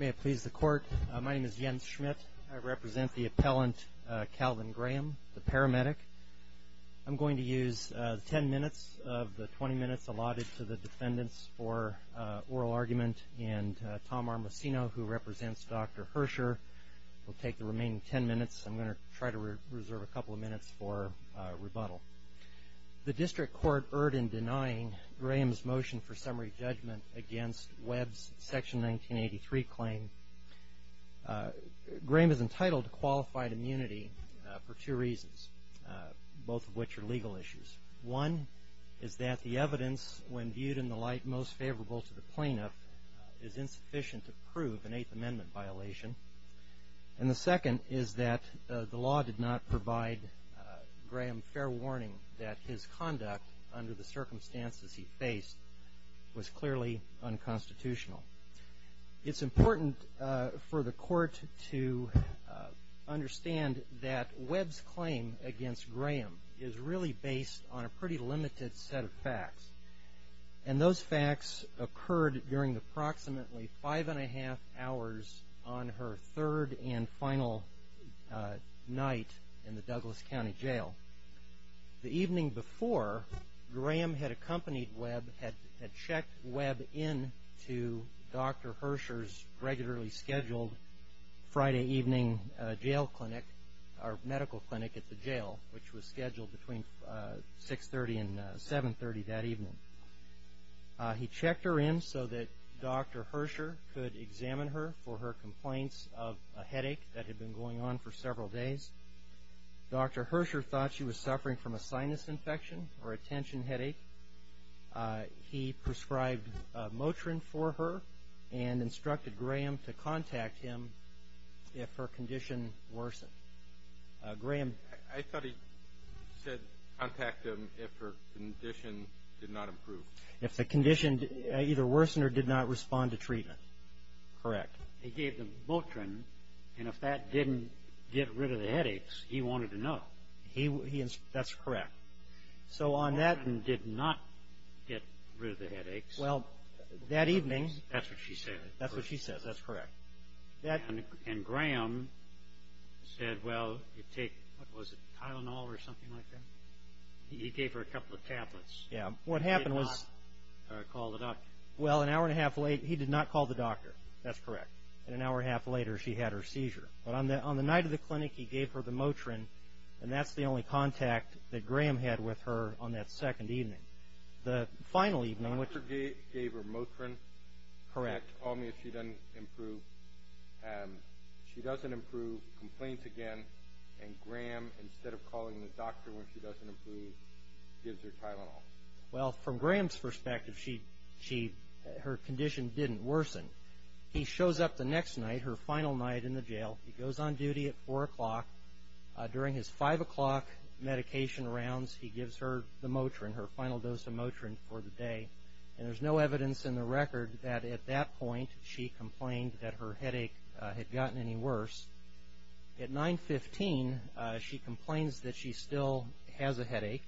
May I please the court? My name is Jens Schmidt. I represent the appellant Calvin Graham, the paramedic. I'm going to use 10 minutes of the 20 minutes allotted to the defendants for oral argument, and Tom Armacino, who represents Dr. Hersher, will take the remaining 10 minutes. I'm going to try to reserve a couple of minutes for rebuttal. The district court erred in denying Graham's motion for summary judgment against Webb's Section 1983 claim. Graham is entitled to qualified immunity for two reasons, both of which are legal issues. One is that the evidence, when viewed in the light most favorable to the plaintiff, is insufficient to prove an Eighth Amendment violation. And the second is that the law did not provide Graham fair warning that his conduct under the circumstances he faced was clearly unconstitutional. It's important for the court to understand that Webb's claim against Graham is really based on a pretty limited set of facts. And those facts occurred during approximately five and a half hours on her third and final night in the Douglas County Jail. The evening before, Graham had accompanied Webb, had checked Webb into Dr. Hersher's regularly scheduled Friday evening medical clinic at the jail, which was scheduled between 6.30 and 7.30 that evening. He checked her in so that Dr. Hersher could examine her for her complaints of a headache that had been going on for several days. Dr. Hersher thought she was suffering from a sinus infection or a tension headache. He prescribed Motrin for her and instructed Graham to contact him if her condition worsened. I thought he said contact him if her condition did not improve. If the condition either worsened or did not respond to treatment. Correct. He gave them Motrin, and if that didn't get rid of the headaches, he wanted to know. That's correct. Motrin did not get rid of the headaches. Well, that evening. That's what she said. That's what she says. That's correct. And Graham said, well, you take Tylenol or something like that. He gave her a couple of tablets. Yeah. He did not call the doctor. Well, an hour and a half later, he did not call the doctor. That's correct. And an hour and a half later, she had her seizure. But on the night of the clinic, he gave her the Motrin, and that's the only contact that Graham had with her on that second evening. The doctor gave her Motrin. Correct. And called me if she didn't improve. She doesn't improve, complains again. And Graham, instead of calling the doctor when she doesn't improve, gives her Tylenol. Well, from Graham's perspective, her condition didn't worsen. He shows up the next night, her final night in the jail. He goes on duty at 4 o'clock. During his 5 o'clock medication rounds, he gives her the Motrin, her final dose of Motrin for the day. And there's no evidence in the record that at that point she complained that her headache had gotten any worse. At 9.15, she complains that she still has a headache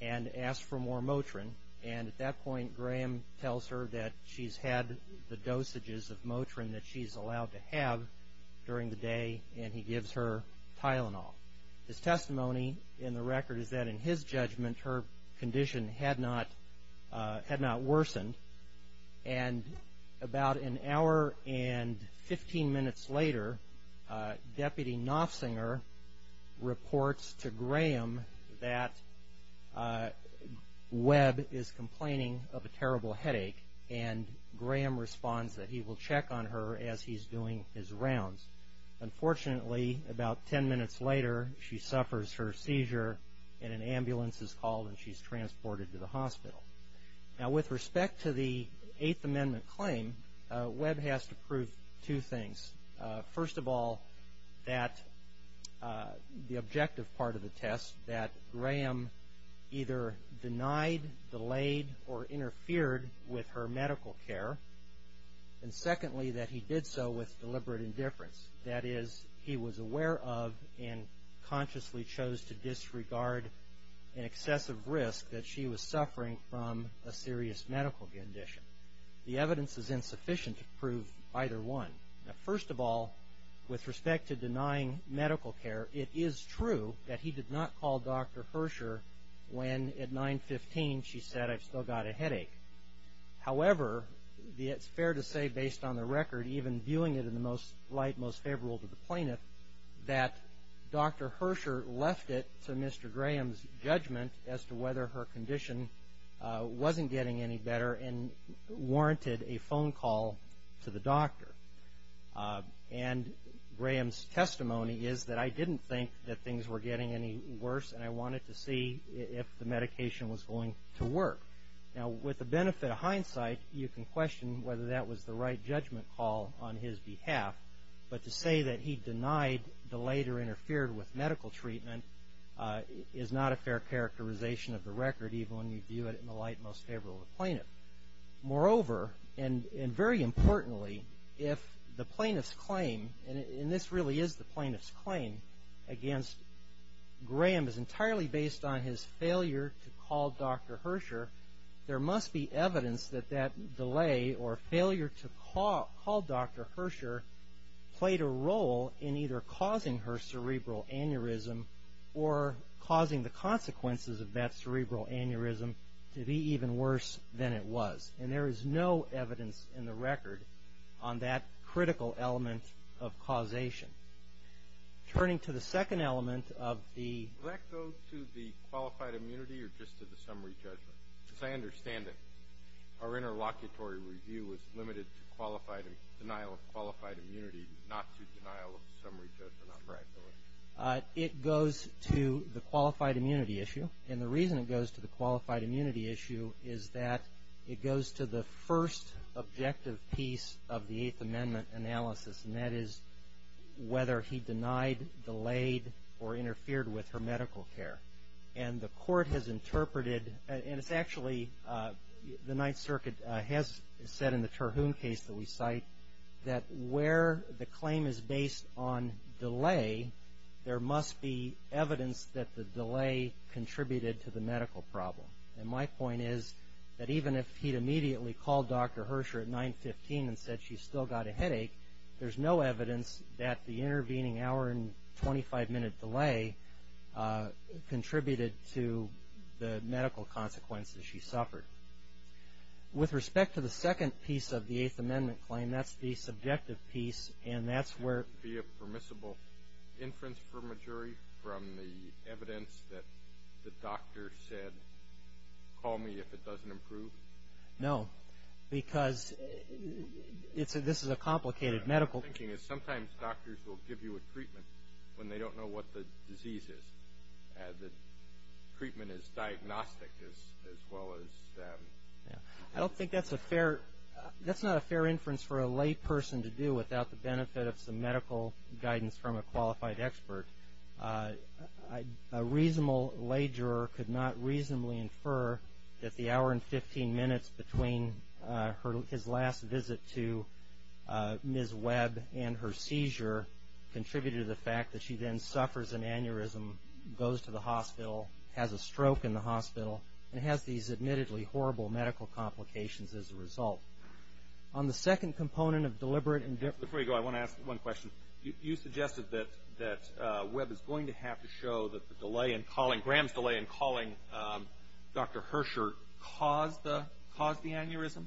and asks for more Motrin. And at that point, Graham tells her that she's had the dosages of Motrin that she's allowed to have during the day. And he gives her Tylenol. His testimony in the record is that in his judgment, her condition had not worsened. And about an hour and 15 minutes later, Deputy Nofsinger reports to Graham that Webb is complaining of a terrible headache. And Graham responds that he will check on her as he's doing his rounds. Unfortunately, about 10 minutes later, she suffers her seizure and an ambulance is called and she's transported to the hospital. Now, with respect to the Eighth Amendment claim, Webb has to prove two things. First of all, that the objective part of the test, that Graham either denied, delayed, or interfered with her medical care. And secondly, that he did so with deliberate indifference. That is, he was aware of and consciously chose to disregard an excessive risk that she was suffering from a serious medical condition. The evidence is insufficient to prove either one. Now, first of all, with respect to denying medical care, it is true that he did not call Dr. Herscher when at 9.15 she said, I've still got a headache. However, it's fair to say, based on the record, even viewing it in the most light, most favorable to the plaintiff, that Dr. Herscher left it to Mr. Graham's judgment as to whether her condition wasn't getting any better and warranted a phone call to the doctor. And Graham's testimony is that I didn't think that things were getting any worse and I wanted to see if the medication was going to work. Now, with the benefit of hindsight, you can question whether that was the right judgment call on his behalf. But to say that he denied, delayed, or interfered with medical treatment is not a fair characterization of the record, even when you view it in the light most favorable to the plaintiff. Moreover, and very importantly, if the plaintiff's claim, and this really is the plaintiff's claim, against Graham is entirely based on his failure to call Dr. Herscher, there must be evidence that that delay or failure to call Dr. Herscher played a role in either causing her cerebral aneurysm or causing the consequences of that cerebral aneurysm to be even worse than it was. And there is no evidence in the record on that critical element of causation. Turning to the second element of the... Does that go to the qualified immunity or just to the summary judgment? Because I understand that our interlocutory review was limited to denial of qualified immunity, not to denial of summary judgment on practice. It goes to the qualified immunity issue. And the reason it goes to the qualified immunity issue is that it goes to the first objective piece of the Eighth Amendment analysis, and that is whether he denied, delayed, or interfered with her medical care. And the court has interpreted, and it's actually the Ninth Circuit has said in the Terhune case that we cite, that where the claim is based on delay, there must be evidence that the delay contributed to the medical problem. And my point is that even if he'd immediately called Dr. Herscher at 9-15 and said she still got a headache, there's no evidence that the intervening hour and 25-minute delay contributed to the medical consequences she suffered. With respect to the second piece of the Eighth Amendment claim, that's the subjective piece, and that's where... Would there be a permissible inference from a jury from the evidence that the doctor said, call me if it doesn't improve? No, because this is a complicated medical... My thinking is sometimes doctors will give you a treatment when they don't know what the disease is. The treatment is diagnostic as well as... I don't think that's a fair... That's not a fair inference for a lay person to do without the benefit of some medical guidance from a qualified expert. A reasonable lay juror could not reasonably infer that the hour and 15 minutes between his last visit to Ms. Webb and her seizure contributed to the fact that she then suffers an aneurysm, goes to the hospital, has a stroke in the hospital, and has these admittedly horrible medical complications as a result. On the second component of deliberate... Before you go, I want to ask one question. You suggested that Webb is going to have to show that the delay in calling... Graham's delay in calling Dr. Herscher caused the aneurysm?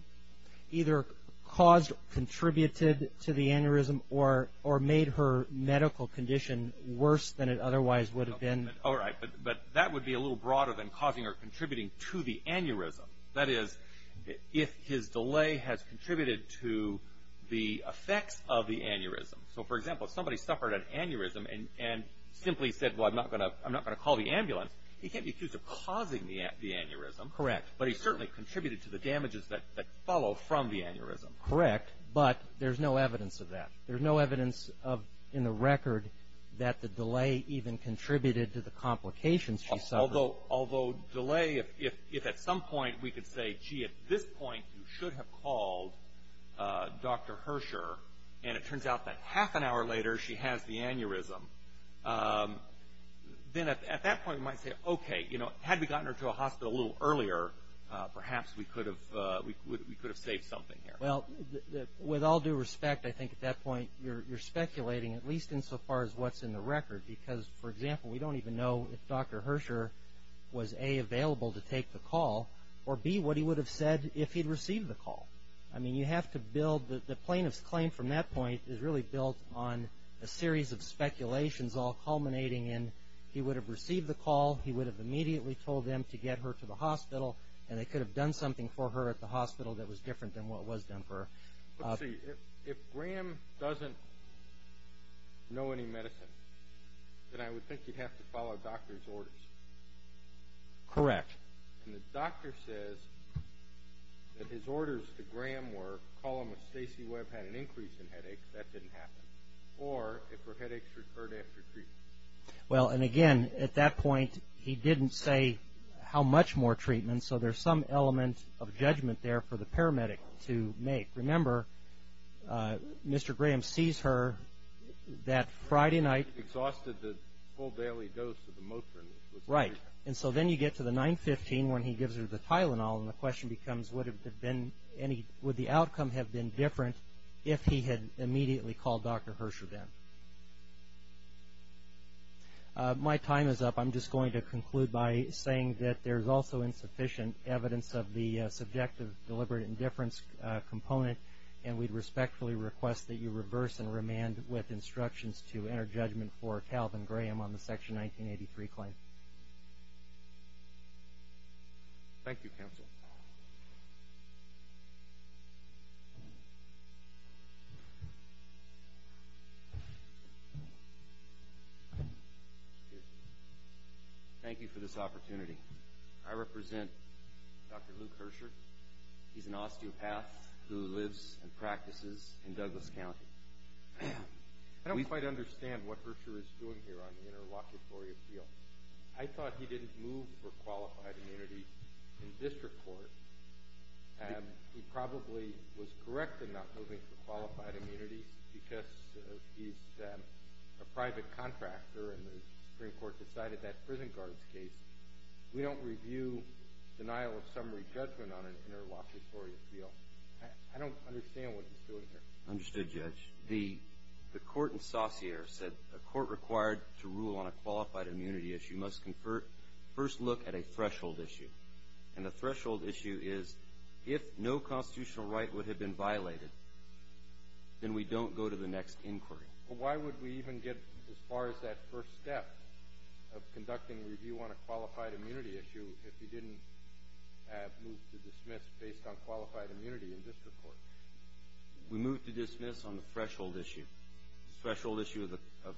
Either caused, contributed to the aneurysm, or made her medical condition worse than it otherwise would have been. All right, but that would be a little broader than causing or contributing to the aneurysm. That is, if his delay has contributed to the effects of the aneurysm. So, for example, if somebody suffered an aneurysm and simply said, well, I'm not going to call the ambulance, he can't be accused of causing the aneurysm. Correct. But he certainly contributed to the damages that follow from the aneurysm. Correct, but there's no evidence of that. There's no evidence in the record that the delay even contributed to the complications she suffered. Although delay, if at some point we could say, gee, at this point you should have called Dr. Herscher, and it turns out that half an hour later she has the aneurysm, then at that point we might say, okay, had we gotten her to a hospital a little earlier, perhaps we could have saved something here. Well, with all due respect, I think at that point you're speculating, at least insofar as what's in the record, because, for example, we don't even know if Dr. Herscher was, A, available to take the call, or, B, what he would have said if he'd received the call. I mean, you have to build the plaintiff's claim from that point is really built on a series of speculations all culminating in he would have received the call, he would have immediately told them to get her to the hospital, and they could have done something for her at the hospital that was different than what was done for her. Let's see, if Graham doesn't know any medicine, then I would think he'd have to follow doctor's orders. Correct. And the doctor says that his orders to Graham were call him if Stacy Webb had an increase in headaches, that didn't happen, or if her headaches recurred after treatment. Well, and again, at that point he didn't say how much more treatment, and so there's some element of judgment there for the paramedic to make. Remember, Mr. Graham sees her that Friday night. Exhausted the full daily dose of the Motrin. Right, and so then you get to the 915 when he gives her the Tylenol, and the question becomes would the outcome have been different if he had immediately called Dr. Herscher then. My time is up. I'm just going to conclude by saying that there's also insufficient evidence of the subjective deliberate indifference component, and we respectfully request that you reverse and remand with instructions to enter judgment for Calvin Graham on the Section 1983 claim. Thank you, Counsel. Thank you for this opportunity. I represent Dr. Luke Herscher. He's an osteopath who lives and practices in Douglas County. I don't quite understand what Herscher is doing here on the interlocutory appeal. I thought he didn't move for qualified immunity in district court. He probably was correct in not moving for qualified immunity because he's a private contractor, and the Supreme Court decided that prison guard's case. We don't review denial of summary judgment on an interlocutory appeal. I don't understand what he's doing here. Understood, Judge. The court in Saussure said a court required to rule on a qualified immunity issue must first look at a threshold issue, and the threshold issue is if no constitutional right would have been violated, then we don't go to the next inquiry. Why would we even get as far as that first step of conducting a review on a qualified immunity issue if he didn't move to dismiss based on qualified immunity in district court? We moved to dismiss on the threshold issue, threshold issue of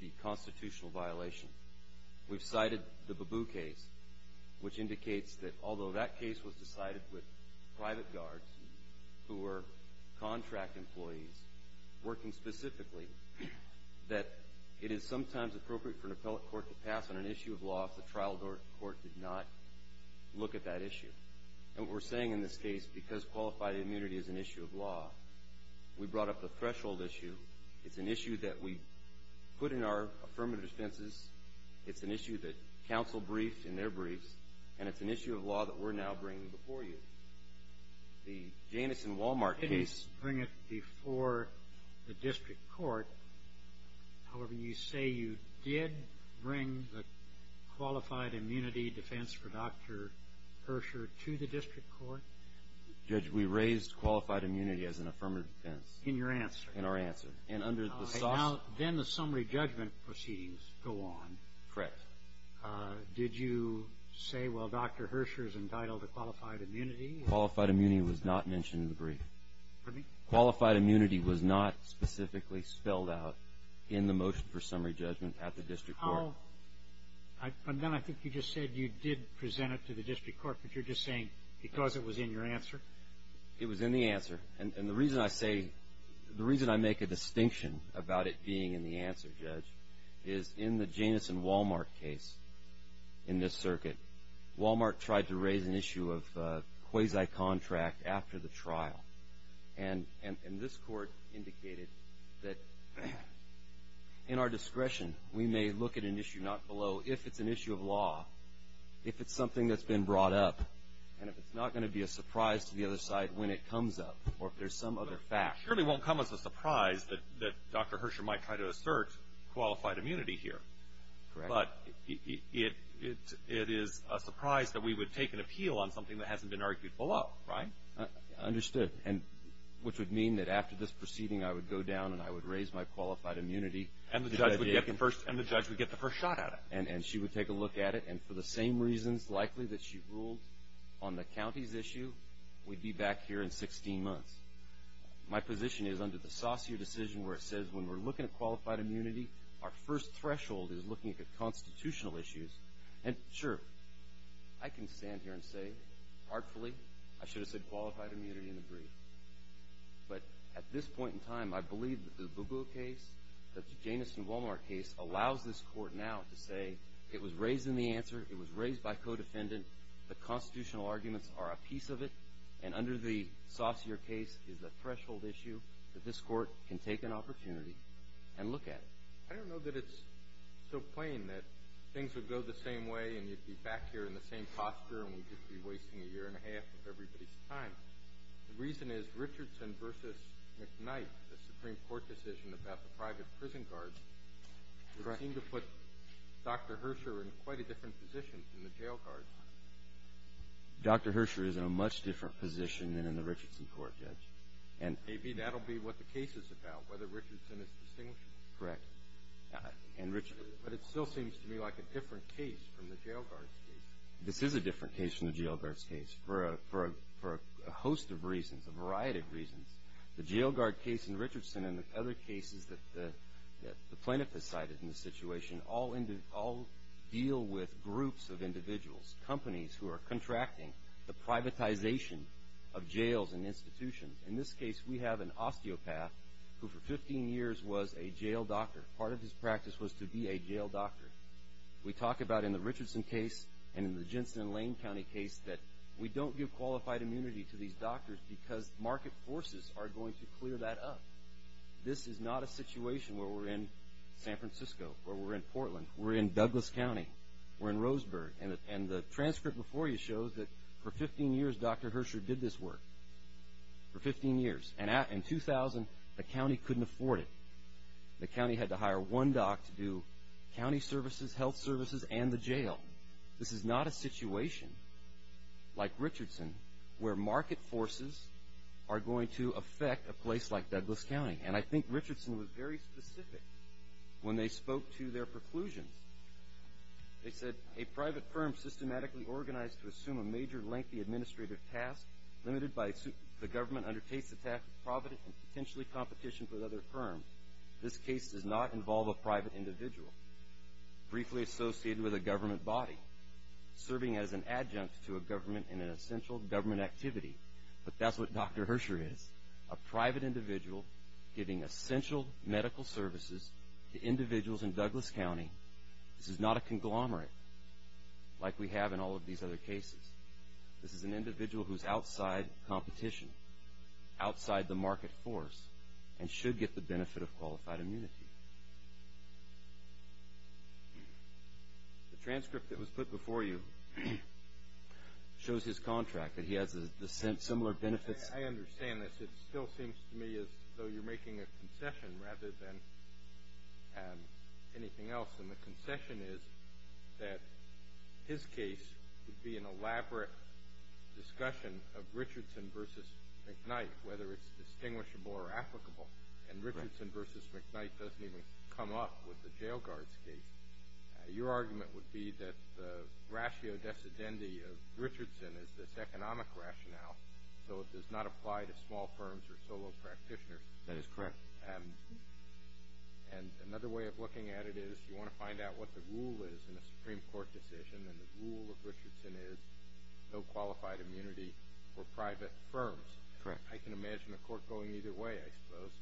the constitutional violation. We've cited the Babu case, which indicates that although that case was decided with private guards who were contract employees working specifically, that it is sometimes appropriate for an appellate court to pass on an issue of law if the trial court did not look at that issue. And what we're saying in this case, because qualified immunity is an issue of law, we brought up the threshold issue. It's an issue that we put in our affirmative defenses. It's an issue that counsel briefed in their briefs, and it's an issue of law that we're now bringing before you. The Janus and Walmart case... You didn't bring it before the district court. However, you say you did bring the qualified immunity defense for Dr. Herscher to the district court? Judge, we raised qualified immunity as an affirmative defense. In your answer? In our answer. Now, then the summary judgment proceedings go on. Correct. Did you say, well, Dr. Herscher is entitled to qualified immunity? Qualified immunity was not mentioned in the brief. Pardon me? Qualified immunity was not specifically spelled out in the motion for summary judgment at the district court. But then I think you just said you did present it to the district court, but you're just saying because it was in your answer? It was in the answer. And the reason I say, the reason I make a distinction about it being in the answer, Judge, is in the Janus and Walmart case in this circuit, Walmart tried to raise an issue of quasi-contract after the trial. And this court indicated that in our discretion, we may look at an issue not below if it's an issue of law, if it's something that's been brought up, and if it's not going to be a surprise to the other side when it comes up, or if there's some other fact. It surely won't come as a surprise that Dr. Herscher might try to assert qualified immunity here. Correct. But it is a surprise that we would take an appeal on something that hasn't been argued below, right? Understood. And which would mean that after this proceeding, I would go down and I would raise my qualified immunity. And the judge would get the first shot at it. And she would take a look at it. And for the same reasons, likely, that she ruled on the county's issue, we'd be back here in 16 months. My position is under the Saussure decision where it says when we're looking at qualified immunity, our first threshold is looking at constitutional issues. And, sure, I can stand here and say, artfully, I should have said qualified immunity in the brief. But at this point in time, I believe that the Bugo case, the Janus and Walmart case, allows this court now to say it was raised in the answer. It was raised by co-defendant. The constitutional arguments are a piece of it. And under the Saussure case is a threshold issue that this court can take an opportunity and look at it. I don't know that it's so plain that things would go the same way and you'd be back here in the same posture and we'd just be wasting a year and a half of everybody's time. The reason is Richardson v. McKnight, the Supreme Court decision about the private prison guards, would seem to put Dr. Herscher in quite a different position than the jail guards. Dr. Herscher is in a much different position than in the Richardson court, Judge. Maybe that'll be what the case is about, whether Richardson is distinguished. Correct. But it still seems to me like a different case from the jail guards' case. This is a different case from the jail guards' case for a host of reasons, a variety of reasons. The jail guard case in Richardson and the other cases that the plaintiff has cited in this situation all deal with groups of individuals, companies who are contracting the privatization of jails and institutions. In this case, we have an osteopath who for 15 years was a jail doctor. Part of his practice was to be a jail doctor. We talk about in the Richardson case and in the Jensen and Lane County case that we don't give qualified immunity to these doctors because market forces are going to clear that up. This is not a situation where we're in San Francisco, where we're in Portland. We're in Douglas County. We're in Roseburg. And the transcript before you shows that for 15 years, Dr. Herscher did this work. For 15 years. And in 2000, the county couldn't afford it. The county had to hire one doc to do county services, health services, and the jail. This is not a situation like Richardson where market forces are going to affect a place like Douglas County. And I think Richardson was very specific when they spoke to their preclusions. They said, a private firm systematically organized to assume a major lengthy administrative task limited by the government undertakes the task of provident and potentially competition with other firms. This case does not involve a private individual. Briefly associated with a government body. Serving as an adjunct to a government in an essential government activity. But that's what Dr. Herscher is. A private individual giving essential medical services to individuals in Douglas County. This is not a conglomerate like we have in all of these other cases. This is an individual who is outside competition. Outside the market force. And should get the benefit of qualified immunity. The transcript that was put before you shows his contract. That he has similar benefits. I understand this. It still seems to me as though you're making a concession rather than anything else. And the concession is that his case would be an elaborate discussion of Richardson v. McKnight. Whether it's distinguishable or applicable. And Richardson v. McKnight doesn't even come up with the jail guard's case. Your argument would be that the ratio decedendi of Richardson is this economic rationale. So it does not apply to small firms or solo practitioners. That is correct. And another way of looking at it is you want to find out what the rule is in a Supreme Court decision. And the rule of Richardson is no qualified immunity for private firms. Correct. I can imagine a court going either way, I suppose.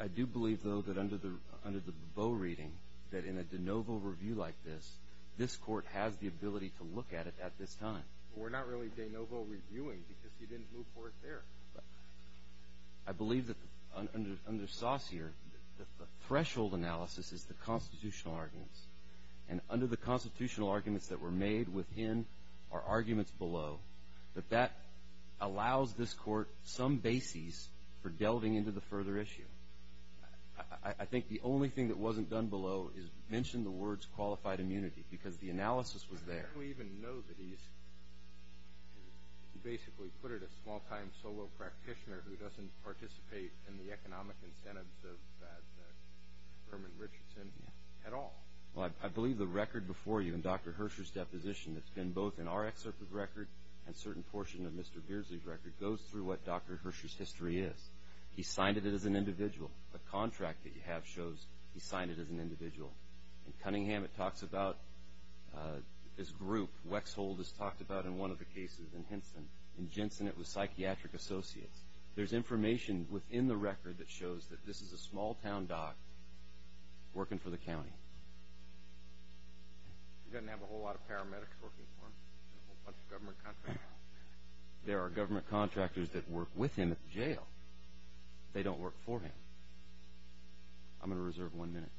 I do believe, though, that under the Boe reading, that in a de novo review like this, this court has the ability to look at it at this time. We're not really de novo reviewing because you didn't move forward there. I believe that under Saussure, the threshold analysis is the constitutional arguments. And under the constitutional arguments that were made within are arguments below. But that allows this court some basis for delving into the further issue. I think the only thing that wasn't done below is mention the words qualified immunity because the analysis was there. How do we even know that he's basically put it as a small-time solo practitioner who doesn't participate in the economic incentives of Herman Richardson at all? Well, I believe the record before you in Dr. Herscher's deposition that's been both in our excerpt of the record and a certain portion of Mr. Beardsley's record goes through what Dr. Herscher's history is. He signed it as an individual. The contract that you have shows he signed it as an individual. In Cunningham, it talks about this group. Wexhold is talked about in one of the cases. In Henson, in Jensen, it was psychiatric associates. There's information within the record that shows that this is a small-town doc working for the county. He doesn't have a whole lot of paramedics working for him. There's a whole bunch of government contractors. There are government contractors that work with him at the jail. They don't work for him. I'm going to reserve one minute.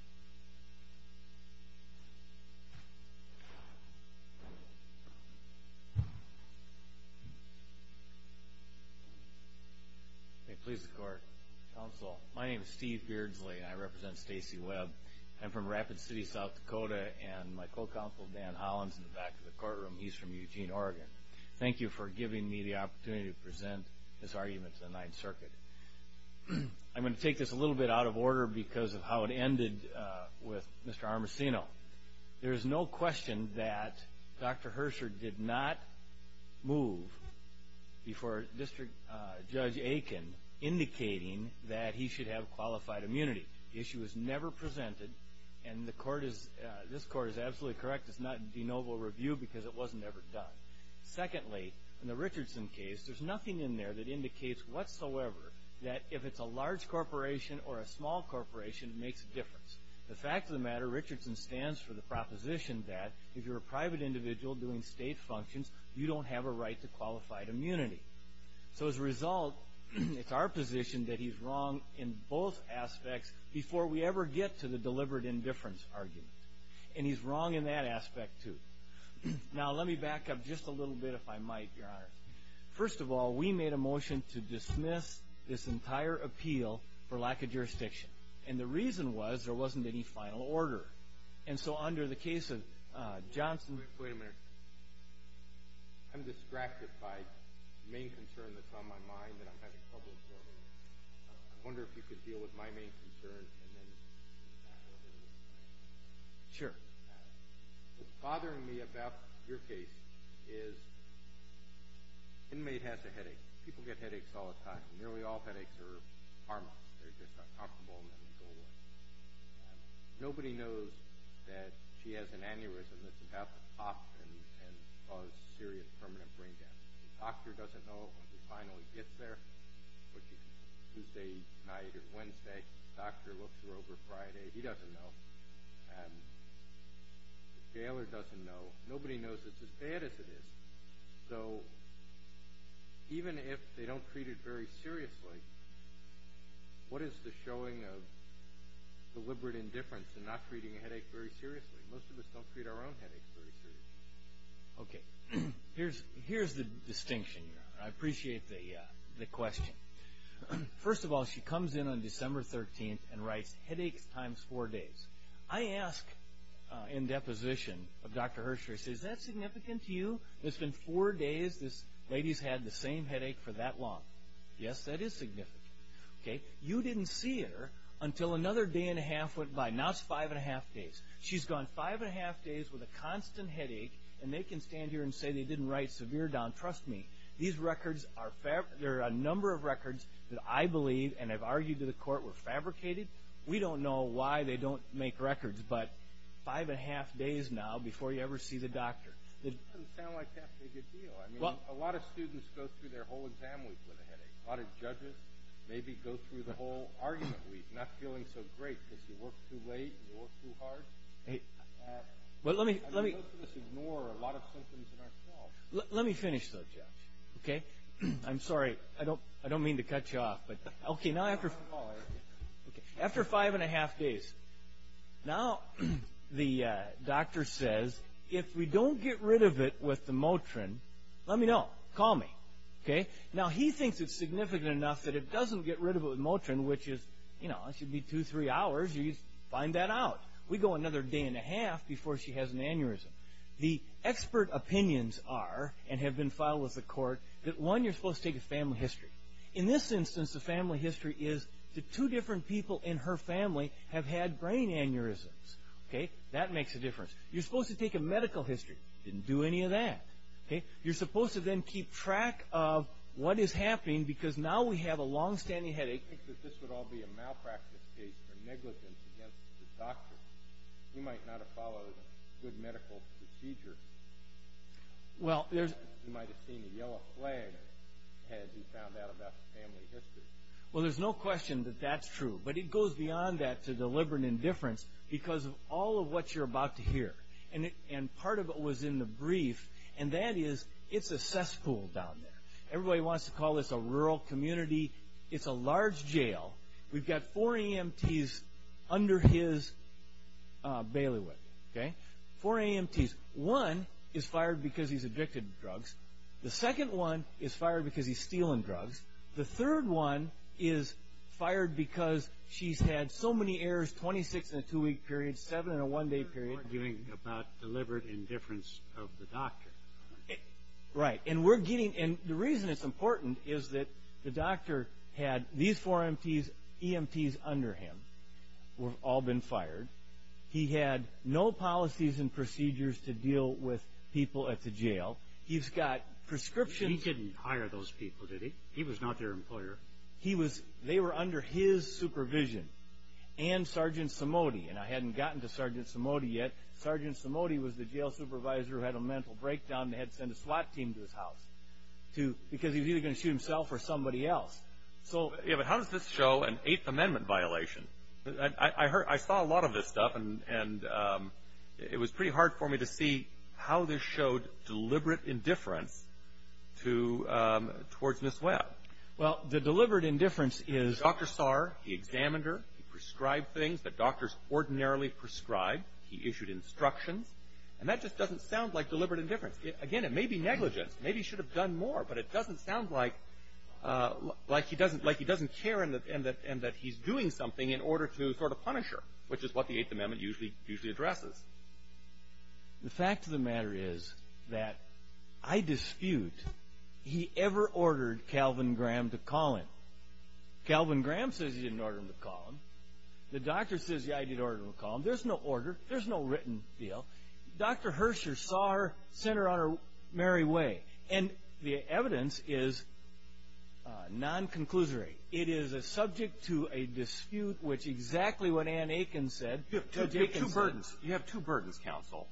May it please the Court. Counsel, my name is Steve Beardsley, and I represent Stacey Webb. I'm from Rapid City, South Dakota, and my co-counsel, Dan Holland, is in the back of the courtroom. He's from Eugene, Oregon. Thank you for giving me the opportunity to present this argument to the Ninth Circuit. I'm going to take this a little bit out of order because of how it ended with Mr. Armacino. There is no question that Dr. Hersher did not move before District Judge Aiken, indicating that he should have qualified immunity. The issue was never presented, and this Court is absolutely correct. It's not de novo review because it was never done. Secondly, in the Richardson case, there's nothing in there that indicates whatsoever that if it's a large corporation or a small corporation, it makes a difference. The fact of the matter, Richardson stands for the proposition that if you're a private individual doing state functions, you don't have a right to qualified immunity. So as a result, it's our position that he's wrong in both aspects before we ever get to the deliberate indifference argument. And he's wrong in that aspect, too. Now, let me back up just a little bit, if I might, Your Honor. First of all, we made a motion to dismiss this entire appeal for lack of jurisdiction, and the reason was there wasn't any final order. And so under the case of Johnson... Wait a minute. I'm distracted by the main concern that's on my mind, and I'm having trouble absorbing it. I wonder if you could deal with my main concern and then... Sure. What's bothering me about your case is an inmate has a headache. People get headaches all the time. Nearly all headaches are harmless. They're just uncomfortable and then they go away. Nobody knows that she has an aneurysm that's about to pop and cause serious permanent brain damage. The doctor doesn't know it when he finally gets there, which is Tuesday night or Wednesday. The doctor looks her over Friday. He doesn't know. The jailer doesn't know. Nobody knows it's as bad as it is. So even if they don't treat it very seriously, what is the showing of deliberate indifference in not treating a headache very seriously? Most of us don't treat our own headaches very seriously. Okay. Here's the distinction, Your Honor. I appreciate the question. First of all, she comes in on December 13th and writes headaches times four days. I ask in deposition of Dr. Hersh, I say, is that significant to you? It's been four days. This lady's had the same headache for that long. Yes, that is significant. Okay. You didn't see her until another day and a half went by. Now it's five and a half days. She's gone five and a half days with a constant headache and they can stand here and say they didn't write severe down. Trust me. These records are a number of records that I believe and have argued to the court were fabricated. We don't know why they don't make records, but five and a half days now before you ever see the doctor. It doesn't sound like that's a big deal. I mean, a lot of students go through their whole exam week with a headache. A lot of judges maybe go through the whole argument week not feeling so great because you work too late and you work too hard. Most of us ignore a lot of symptoms in our health. Let me finish though, Jeff. Okay. I'm sorry. I don't mean to cut you off. Okay. Now after five and a half days. Now the doctor says if we don't get rid of it with the Motrin, let me know. Call me. Okay. Now he thinks it's significant enough that it doesn't get rid of it with Motrin, which is, you know, it should be two, three hours. You find that out. We go another day and a half before she has an aneurysm. The expert opinions are, and have been filed with the court, that, one, you're supposed to take a family history. In this instance, the family history is that two different people in her family have had brain aneurysms. Okay. That makes a difference. You're supposed to take a medical history. Didn't do any of that. Okay. You're supposed to then keep track of what is happening because now we have a long-standing headache. I think that this would all be a malpractice case for negligence against the doctor. He might not have followed good medical procedure. He might have seen a yellow flag had he found out about the family history. Well, there's no question that that's true, but it goes beyond that to deliberate indifference because of all of what you're about to hear. And part of it was in the brief, and that is it's a cesspool down there. Everybody wants to call this a rural community. It's a large jail. We've got four EMTs under his bailiwick. Okay. Four EMTs. One is fired because he's addicted to drugs. The second one is fired because he's stealing drugs. The third one is fired because she's had so many errors, 26 in a two-week period, seven in a one-day period. You're arguing about deliberate indifference of the doctor. Right. And the reason it's important is that the doctor had these four EMTs under him who have all been fired. He had no policies and procedures to deal with people at the jail. He's got prescriptions. He didn't hire those people, did he? He was not their employer. They were under his supervision and Sergeant Somody, and I hadn't gotten to Sergeant Somody yet. Sergeant Somody was the jail supervisor who had a mental breakdown and had to send a SWAT team to his house. Because he was either going to shoot himself or somebody else. Yeah, but how does this show an Eighth Amendment violation? I saw a lot of this stuff, and it was pretty hard for me to see how this showed deliberate indifference towards Ms. Webb. Well, the deliberate indifference is- that doctors ordinarily prescribe. He issued instructions. And that just doesn't sound like deliberate indifference. Again, it may be negligence. Maybe he should have done more, but it doesn't sound like he doesn't care and that he's doing something in order to sort of punish her, which is what the Eighth Amendment usually addresses. The fact of the matter is that I dispute he ever ordered Calvin Graham to call him. Calvin Graham says he didn't order him to call him. The doctor says he did order him to call him. There's no order. There's no written deal. Dr. Hersher saw her, sent her on her merry way. And the evidence is non-conclusory. It is subject to a dispute, which exactly what Ann Akin said- You have two burdens. You have two burdens, counsel.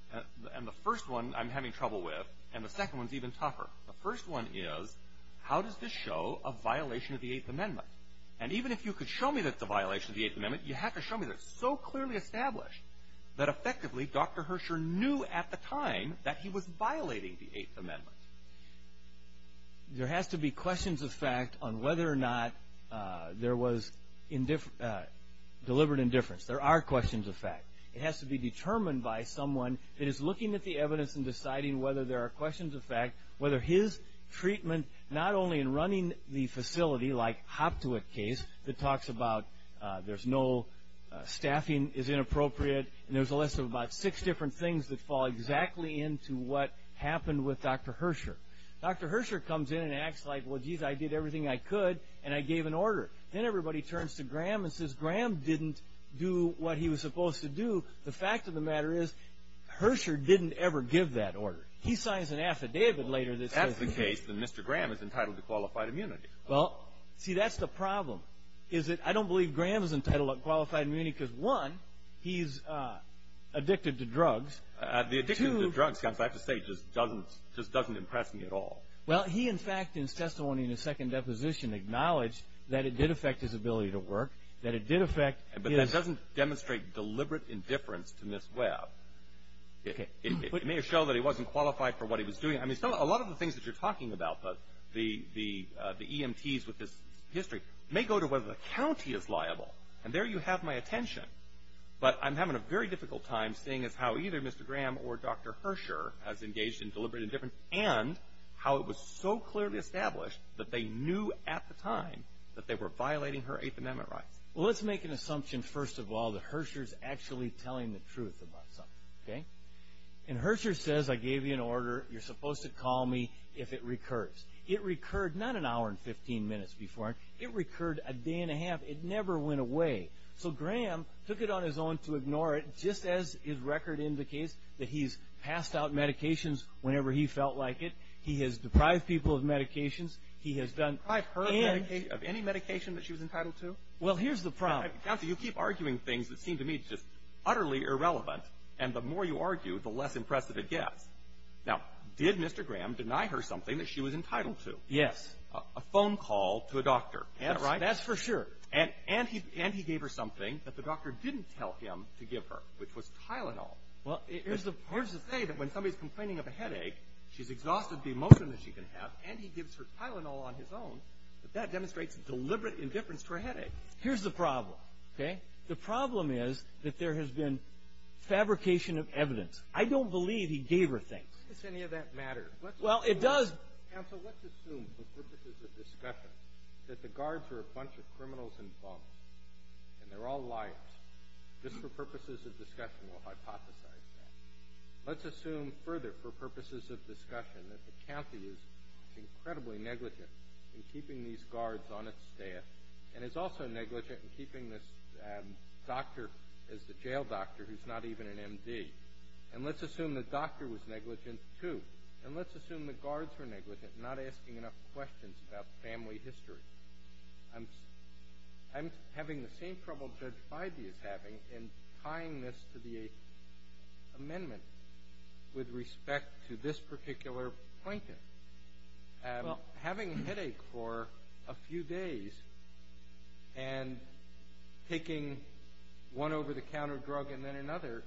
And the first one I'm having trouble with, and the second one's even tougher. The first one is, how does this show a violation of the Eighth Amendment? And even if you could show me that it's a violation of the Eighth Amendment, you have to show me that it's so clearly established that effectively Dr. Hersher knew at the time that he was violating the Eighth Amendment. There has to be questions of fact on whether or not there was deliberate indifference. There are questions of fact. It has to be determined by someone that is looking at the evidence and deciding whether there are questions of fact, whether his treatment, not only in running the facility, like Hoptewick case, that talks about there's no staffing is inappropriate, and there's a list of about six different things that fall exactly into what happened with Dr. Hersher. Dr. Hersher comes in and acts like, well, geez, I did everything I could, and I gave an order. Then everybody turns to Graham and says, Graham didn't do what he was supposed to do. The fact of the matter is, Hersher didn't ever give that order. He signs an affidavit later that says he did. Well, if that's the case, then Mr. Graham is entitled to qualified immunity. Well, see, that's the problem, is that I don't believe Graham is entitled to qualified immunity because, one, he's addicted to drugs. The addiction to drugs, I have to say, just doesn't impress me at all. Well, he, in fact, in his testimony in his second deposition, acknowledged that it did affect his ability to work, that it did affect his – But that doesn't demonstrate deliberate indifference to Ms. Webb. It may have shown that he wasn't qualified for what he was doing. I mean, it's not a lot of the things that you're talking about, but the EMTs with this history may go to whether the county is liable. And there you have my attention. But I'm having a very difficult time seeing as how either Mr. Graham or Dr. Hersher has engaged in deliberate indifference and how it was so clearly established that they knew at the time that they were violating her Eighth Amendment rights. Well, let's make an assumption, first of all, that Hersher's actually telling the truth about something, okay? And Hersher says, I gave you an order. You're supposed to call me if it recurs. It recurred not an hour and 15 minutes before. It recurred a day and a half. It never went away. So Graham took it on his own to ignore it, just as his record indicates, that he's passed out medications whenever he felt like it. He has deprived people of medications. He has done – Deprived her of any medication that she was entitled to? Well, here's the problem. Counsel, you keep arguing things that seem to me just utterly irrelevant. And the more you argue, the less impressive it gets. Now, did Mr. Graham deny her something that she was entitled to? Yes. A phone call to a doctor. Is that right? That's for sure. And he gave her something that the doctor didn't tell him to give her, which was Tylenol. Well, here's the thing. When somebody's complaining of a headache, she's exhausted the emotion that she can have, and he gives her Tylenol on his own. But that demonstrates deliberate indifference to her headache. Here's the problem, okay? The problem is that there has been fabrication of evidence. I don't believe he gave her things. Does any of that matter? Well, it does. Counsel, let's assume for purposes of discussion that the guards are a bunch of criminals and bums, and they're all liars. Just for purposes of discussion, we'll hypothesize that. Let's assume further, for purposes of discussion, that the county is incredibly negligent in keeping these guards on its staff and is also negligent in keeping this doctor as the jail doctor who's not even an M.D. And let's assume the doctor was negligent too. And let's assume the guards were negligent, not asking enough questions about family history. I'm having the same trouble Judge Bidey is having in tying this to the Eighth Amendment with respect to this particular plaintiff. Having a headache for a few days and taking one over-the-counter drug and then another,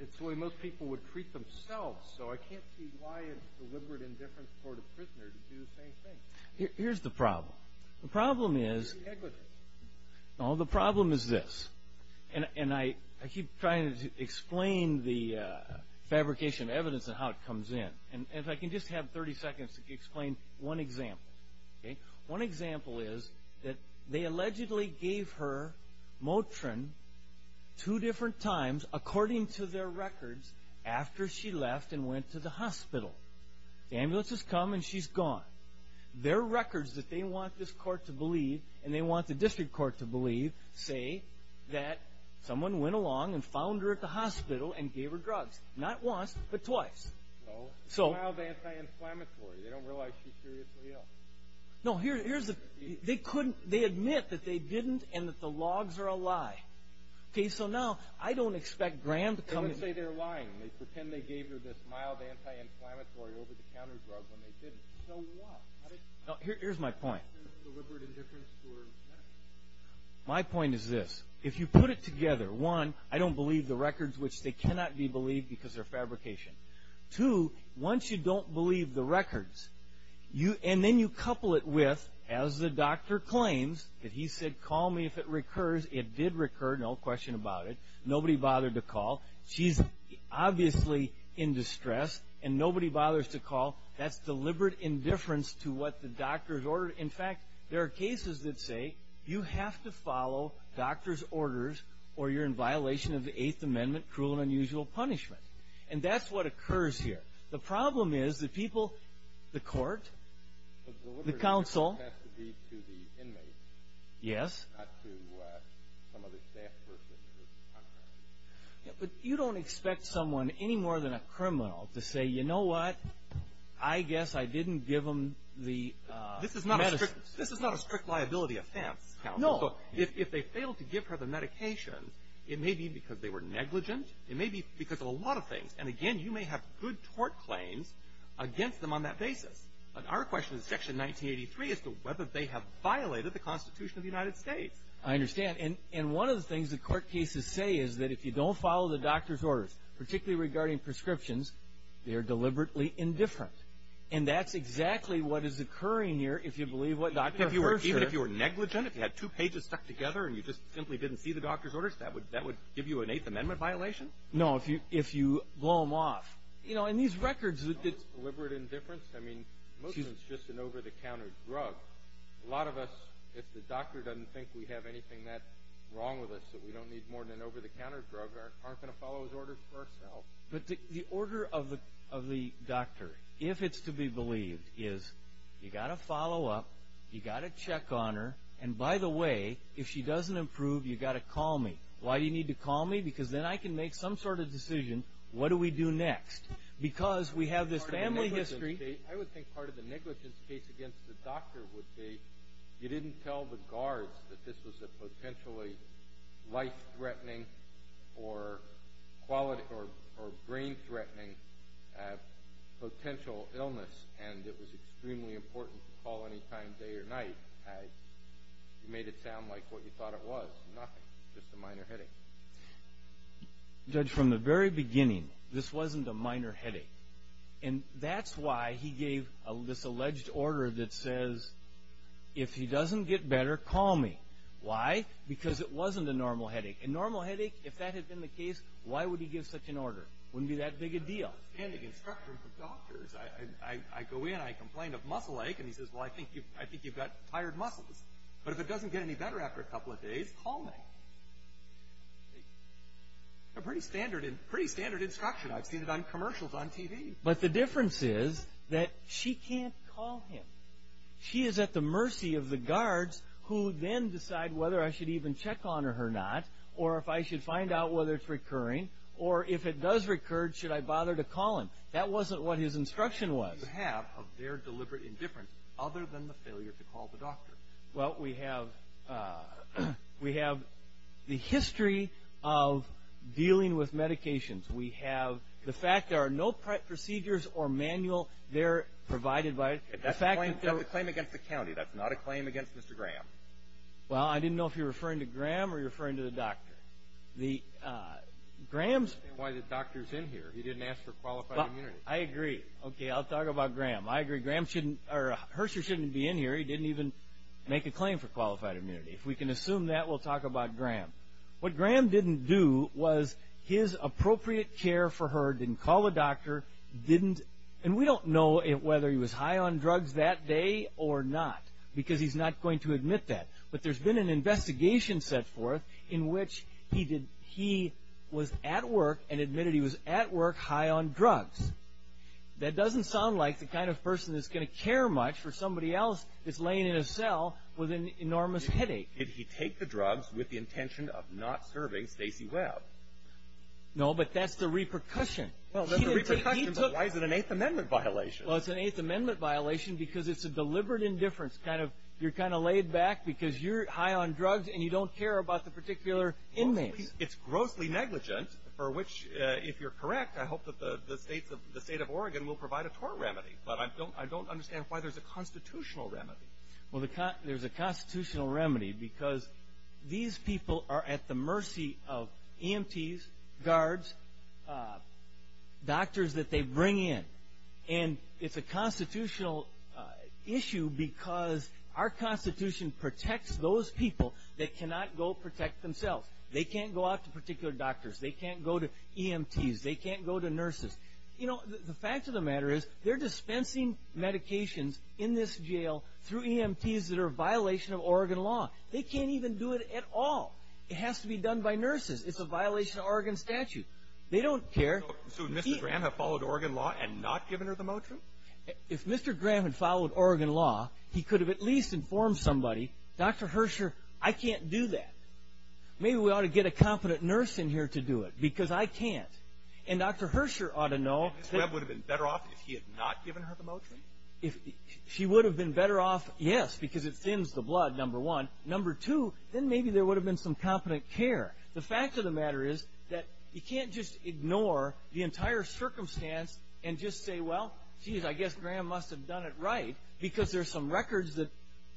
it's the way most people would treat themselves. So I can't see why it's deliberate indifference for the prisoner to do the same thing. Here's the problem. The problem is this. And I keep trying to explain the fabrication of evidence and how it comes in. If I can just have 30 seconds to explain one example. One example is that they allegedly gave her Motrin two different times, according to their records, after she left and went to the hospital. The ambulance has come and she's gone. Their records that they want this court to believe, and they want the district court to believe, say that someone went along and found her at the hospital and gave her drugs. Not once, but twice. No. It's mild anti-inflammatory. They don't realize she seriously ill. No, here's the thing. They admit that they didn't and that the logs are a lie. Okay, so now I don't expect Graham to come... They wouldn't say they're lying. They pretend they gave her this mild anti-inflammatory over-the-counter drug when they didn't. So what? Here's my point. Deliberate indifference towards medicine. My point is this. If you put it together, one, I don't believe the records, which they cannot be believed because they're fabrication. Two, once you don't believe the records, and then you couple it with, as the doctor claims, that he said, call me if it recurs. It did recur, no question about it. Nobody bothered to call. She's obviously in distress, and nobody bothers to call. That's deliberate indifference to what the doctor has ordered. In fact, there are cases that say you have to follow doctor's orders or you're in violation of the Eighth Amendment, cruel and unusual punishment. And that's what occurs here. The problem is the people, the court, the counsel... You don't expect someone, any more than a criminal, to say, you know what? I guess I didn't give them the medicines. This is not a strict liability offense. No. If they failed to give her the medication, it may be because they were negligent. It may be because of a lot of things. And, again, you may have good tort claims against them on that basis. But our question is Section 1983 as to whether they have violated the Constitution of the United States. I understand. And one of the things that court cases say is that if you don't follow the doctor's orders, particularly regarding prescriptions, they are deliberately indifferent. And that's exactly what is occurring here if you believe what Dr. Herscher... Even if you were negligent, if you had two pages stuck together and you just simply didn't see the doctor's orders, that would give you an Eighth Amendment violation? No, if you blow them off. You know, in these records... It's deliberate indifference. I mean, most of it's just an over-the-counter drug. A lot of us, if the doctor doesn't think we have anything that's wrong with us, that we don't need more than an over-the-counter drug, aren't going to follow his orders for ourselves. But the order of the doctor, if it's to be believed, is, you've got to follow up, you've got to check on her, and, by the way, if she doesn't improve, you've got to call me. Why do you need to call me? Because then I can make some sort of decision, what do we do next? Because we have this family history... I would think part of the negligence case against the doctor would be, you didn't tell the guards that this was a potentially life-threatening or brain-threatening potential illness, and it was extremely important to call any time, day or night. You made it sound like what you thought it was, nothing, just a minor headache. Judge, from the very beginning, this wasn't a minor headache, and that's why he gave this alleged order that says, if he doesn't get better, call me. Why? Because it wasn't a normal headache. A normal headache, if that had been the case, why would he give such an order? It wouldn't be that big a deal. I've had outstanding instruction from doctors. I go in, I complain of muscle ache, and he says, well, I think you've got tired muscles. But if it doesn't get any better after a couple of days, call me. Pretty standard instruction. I've seen it on commercials on TV. But the difference is that she can't call him. She is at the mercy of the guards who then decide whether I should even check on her or not, or if I should find out whether it's recurring, or if it does recur, should I bother to call him? That wasn't what his instruction was. What do you have of their deliberate indifference, other than the failure to call the doctor? Well, we have the history of dealing with medications. We have the fact there are no procedures or manuals there provided by it. That's a claim against the county. That's not a claim against Mr. Graham. Well, I didn't know if you're referring to Graham or you're referring to the doctor. I don't understand why the doctor's in here. He didn't ask for qualified immunity. I agree. Okay, I'll talk about Graham. I agree. Herscher shouldn't be in here. He didn't even make a claim for qualified immunity. If we can assume that, we'll talk about Graham. What Graham didn't do was his appropriate care for her. He didn't call the doctor. And we don't know whether he was high on drugs that day or not, because he's not going to admit that. But there's been an investigation set forth in which he was at work and admitted he was at work high on drugs. That doesn't sound like the kind of person that's going to care much for somebody else that's laying in a cell with an enormous headache. Did he take the drugs with the intention of not serving Stacey Webb? No, but that's the repercussion. Well, that's the repercussion, but why is it an Eighth Amendment violation? Well, it's an Eighth Amendment violation because it's a deliberate indifference. You're kind of laid back because you're high on drugs and you don't care about the particular inmates. It's grossly negligent, for which, if you're correct, I hope that the state of Oregon will provide a tort remedy. But I don't understand why there's a constitutional remedy. Well, there's a constitutional remedy because these people are at the mercy of EMTs, guards, doctors that they bring in. And it's a constitutional issue because our Constitution protects those people that cannot go protect themselves. They can't go out to particular doctors. They can't go to EMTs. They can't go to nurses. You know, the fact of the matter is they're dispensing medications in this jail through EMTs that are a violation of Oregon law. They can't even do it at all. It has to be done by nurses. It's a violation of Oregon statute. They don't care. So would Mr. Graham have followed Oregon law and not given her the motion? If Mr. Graham had followed Oregon law, he could have at least informed somebody, Dr. Herscher, I can't do that. Maybe we ought to get a competent nurse in here to do it because I can't. And Dr. Herscher ought to know. And Ms. Webb would have been better off if he had not given her the motion? She would have been better off, yes, because it thins the blood, number one. Number two, then maybe there would have been some competent care. The fact of the matter is that you can't just ignore the entire circumstance and just say, well, geez, I guess Graham must have done it right because there are some records that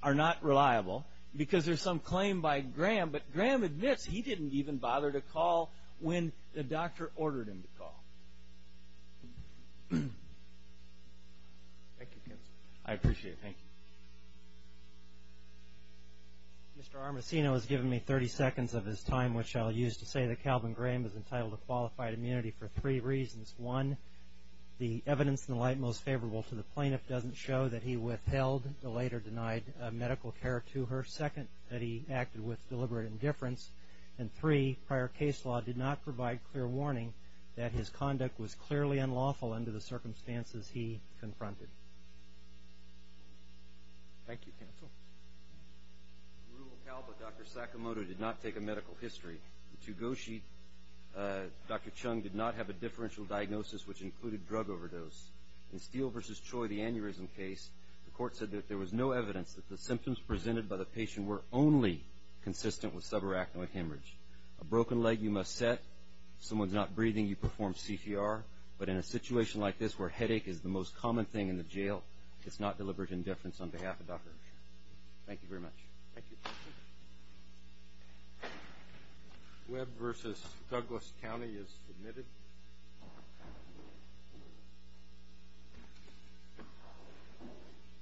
are not reliable because there's some claim by Graham. But Graham admits he didn't even bother to call when the doctor ordered him to call. Thank you, Ken. I appreciate it. Thank you. Mr. Armacino has given me 30 seconds of his time, which I'll use to say that Calvin Graham is entitled to qualified immunity for three reasons. One, the evidence in the light most favorable to the plaintiff doesn't show that he withheld or later denied medical care to her. Second, that he acted with deliberate indifference. And three, prior case law did not provide clear warning that his conduct was clearly unlawful under the circumstances he confronted. Thank you, counsel. Dr. Sakamoto did not take a medical history. Dr. Chung did not have a differential diagnosis, which included drug overdose. In Steele v. Choi, the aneurysm case, the court said that there was no evidence that the symptoms presented by the patient were only consistent with subarachnoid hemorrhage. A broken leg you must set. If someone's not breathing, you perform CTR. But in a situation like this where headache is the most common thing in the jail, it's not deliberate indifference on behalf of Dr. Chung. Thank you very much. Thank you. Questions? Webb v. Douglas County is submitted.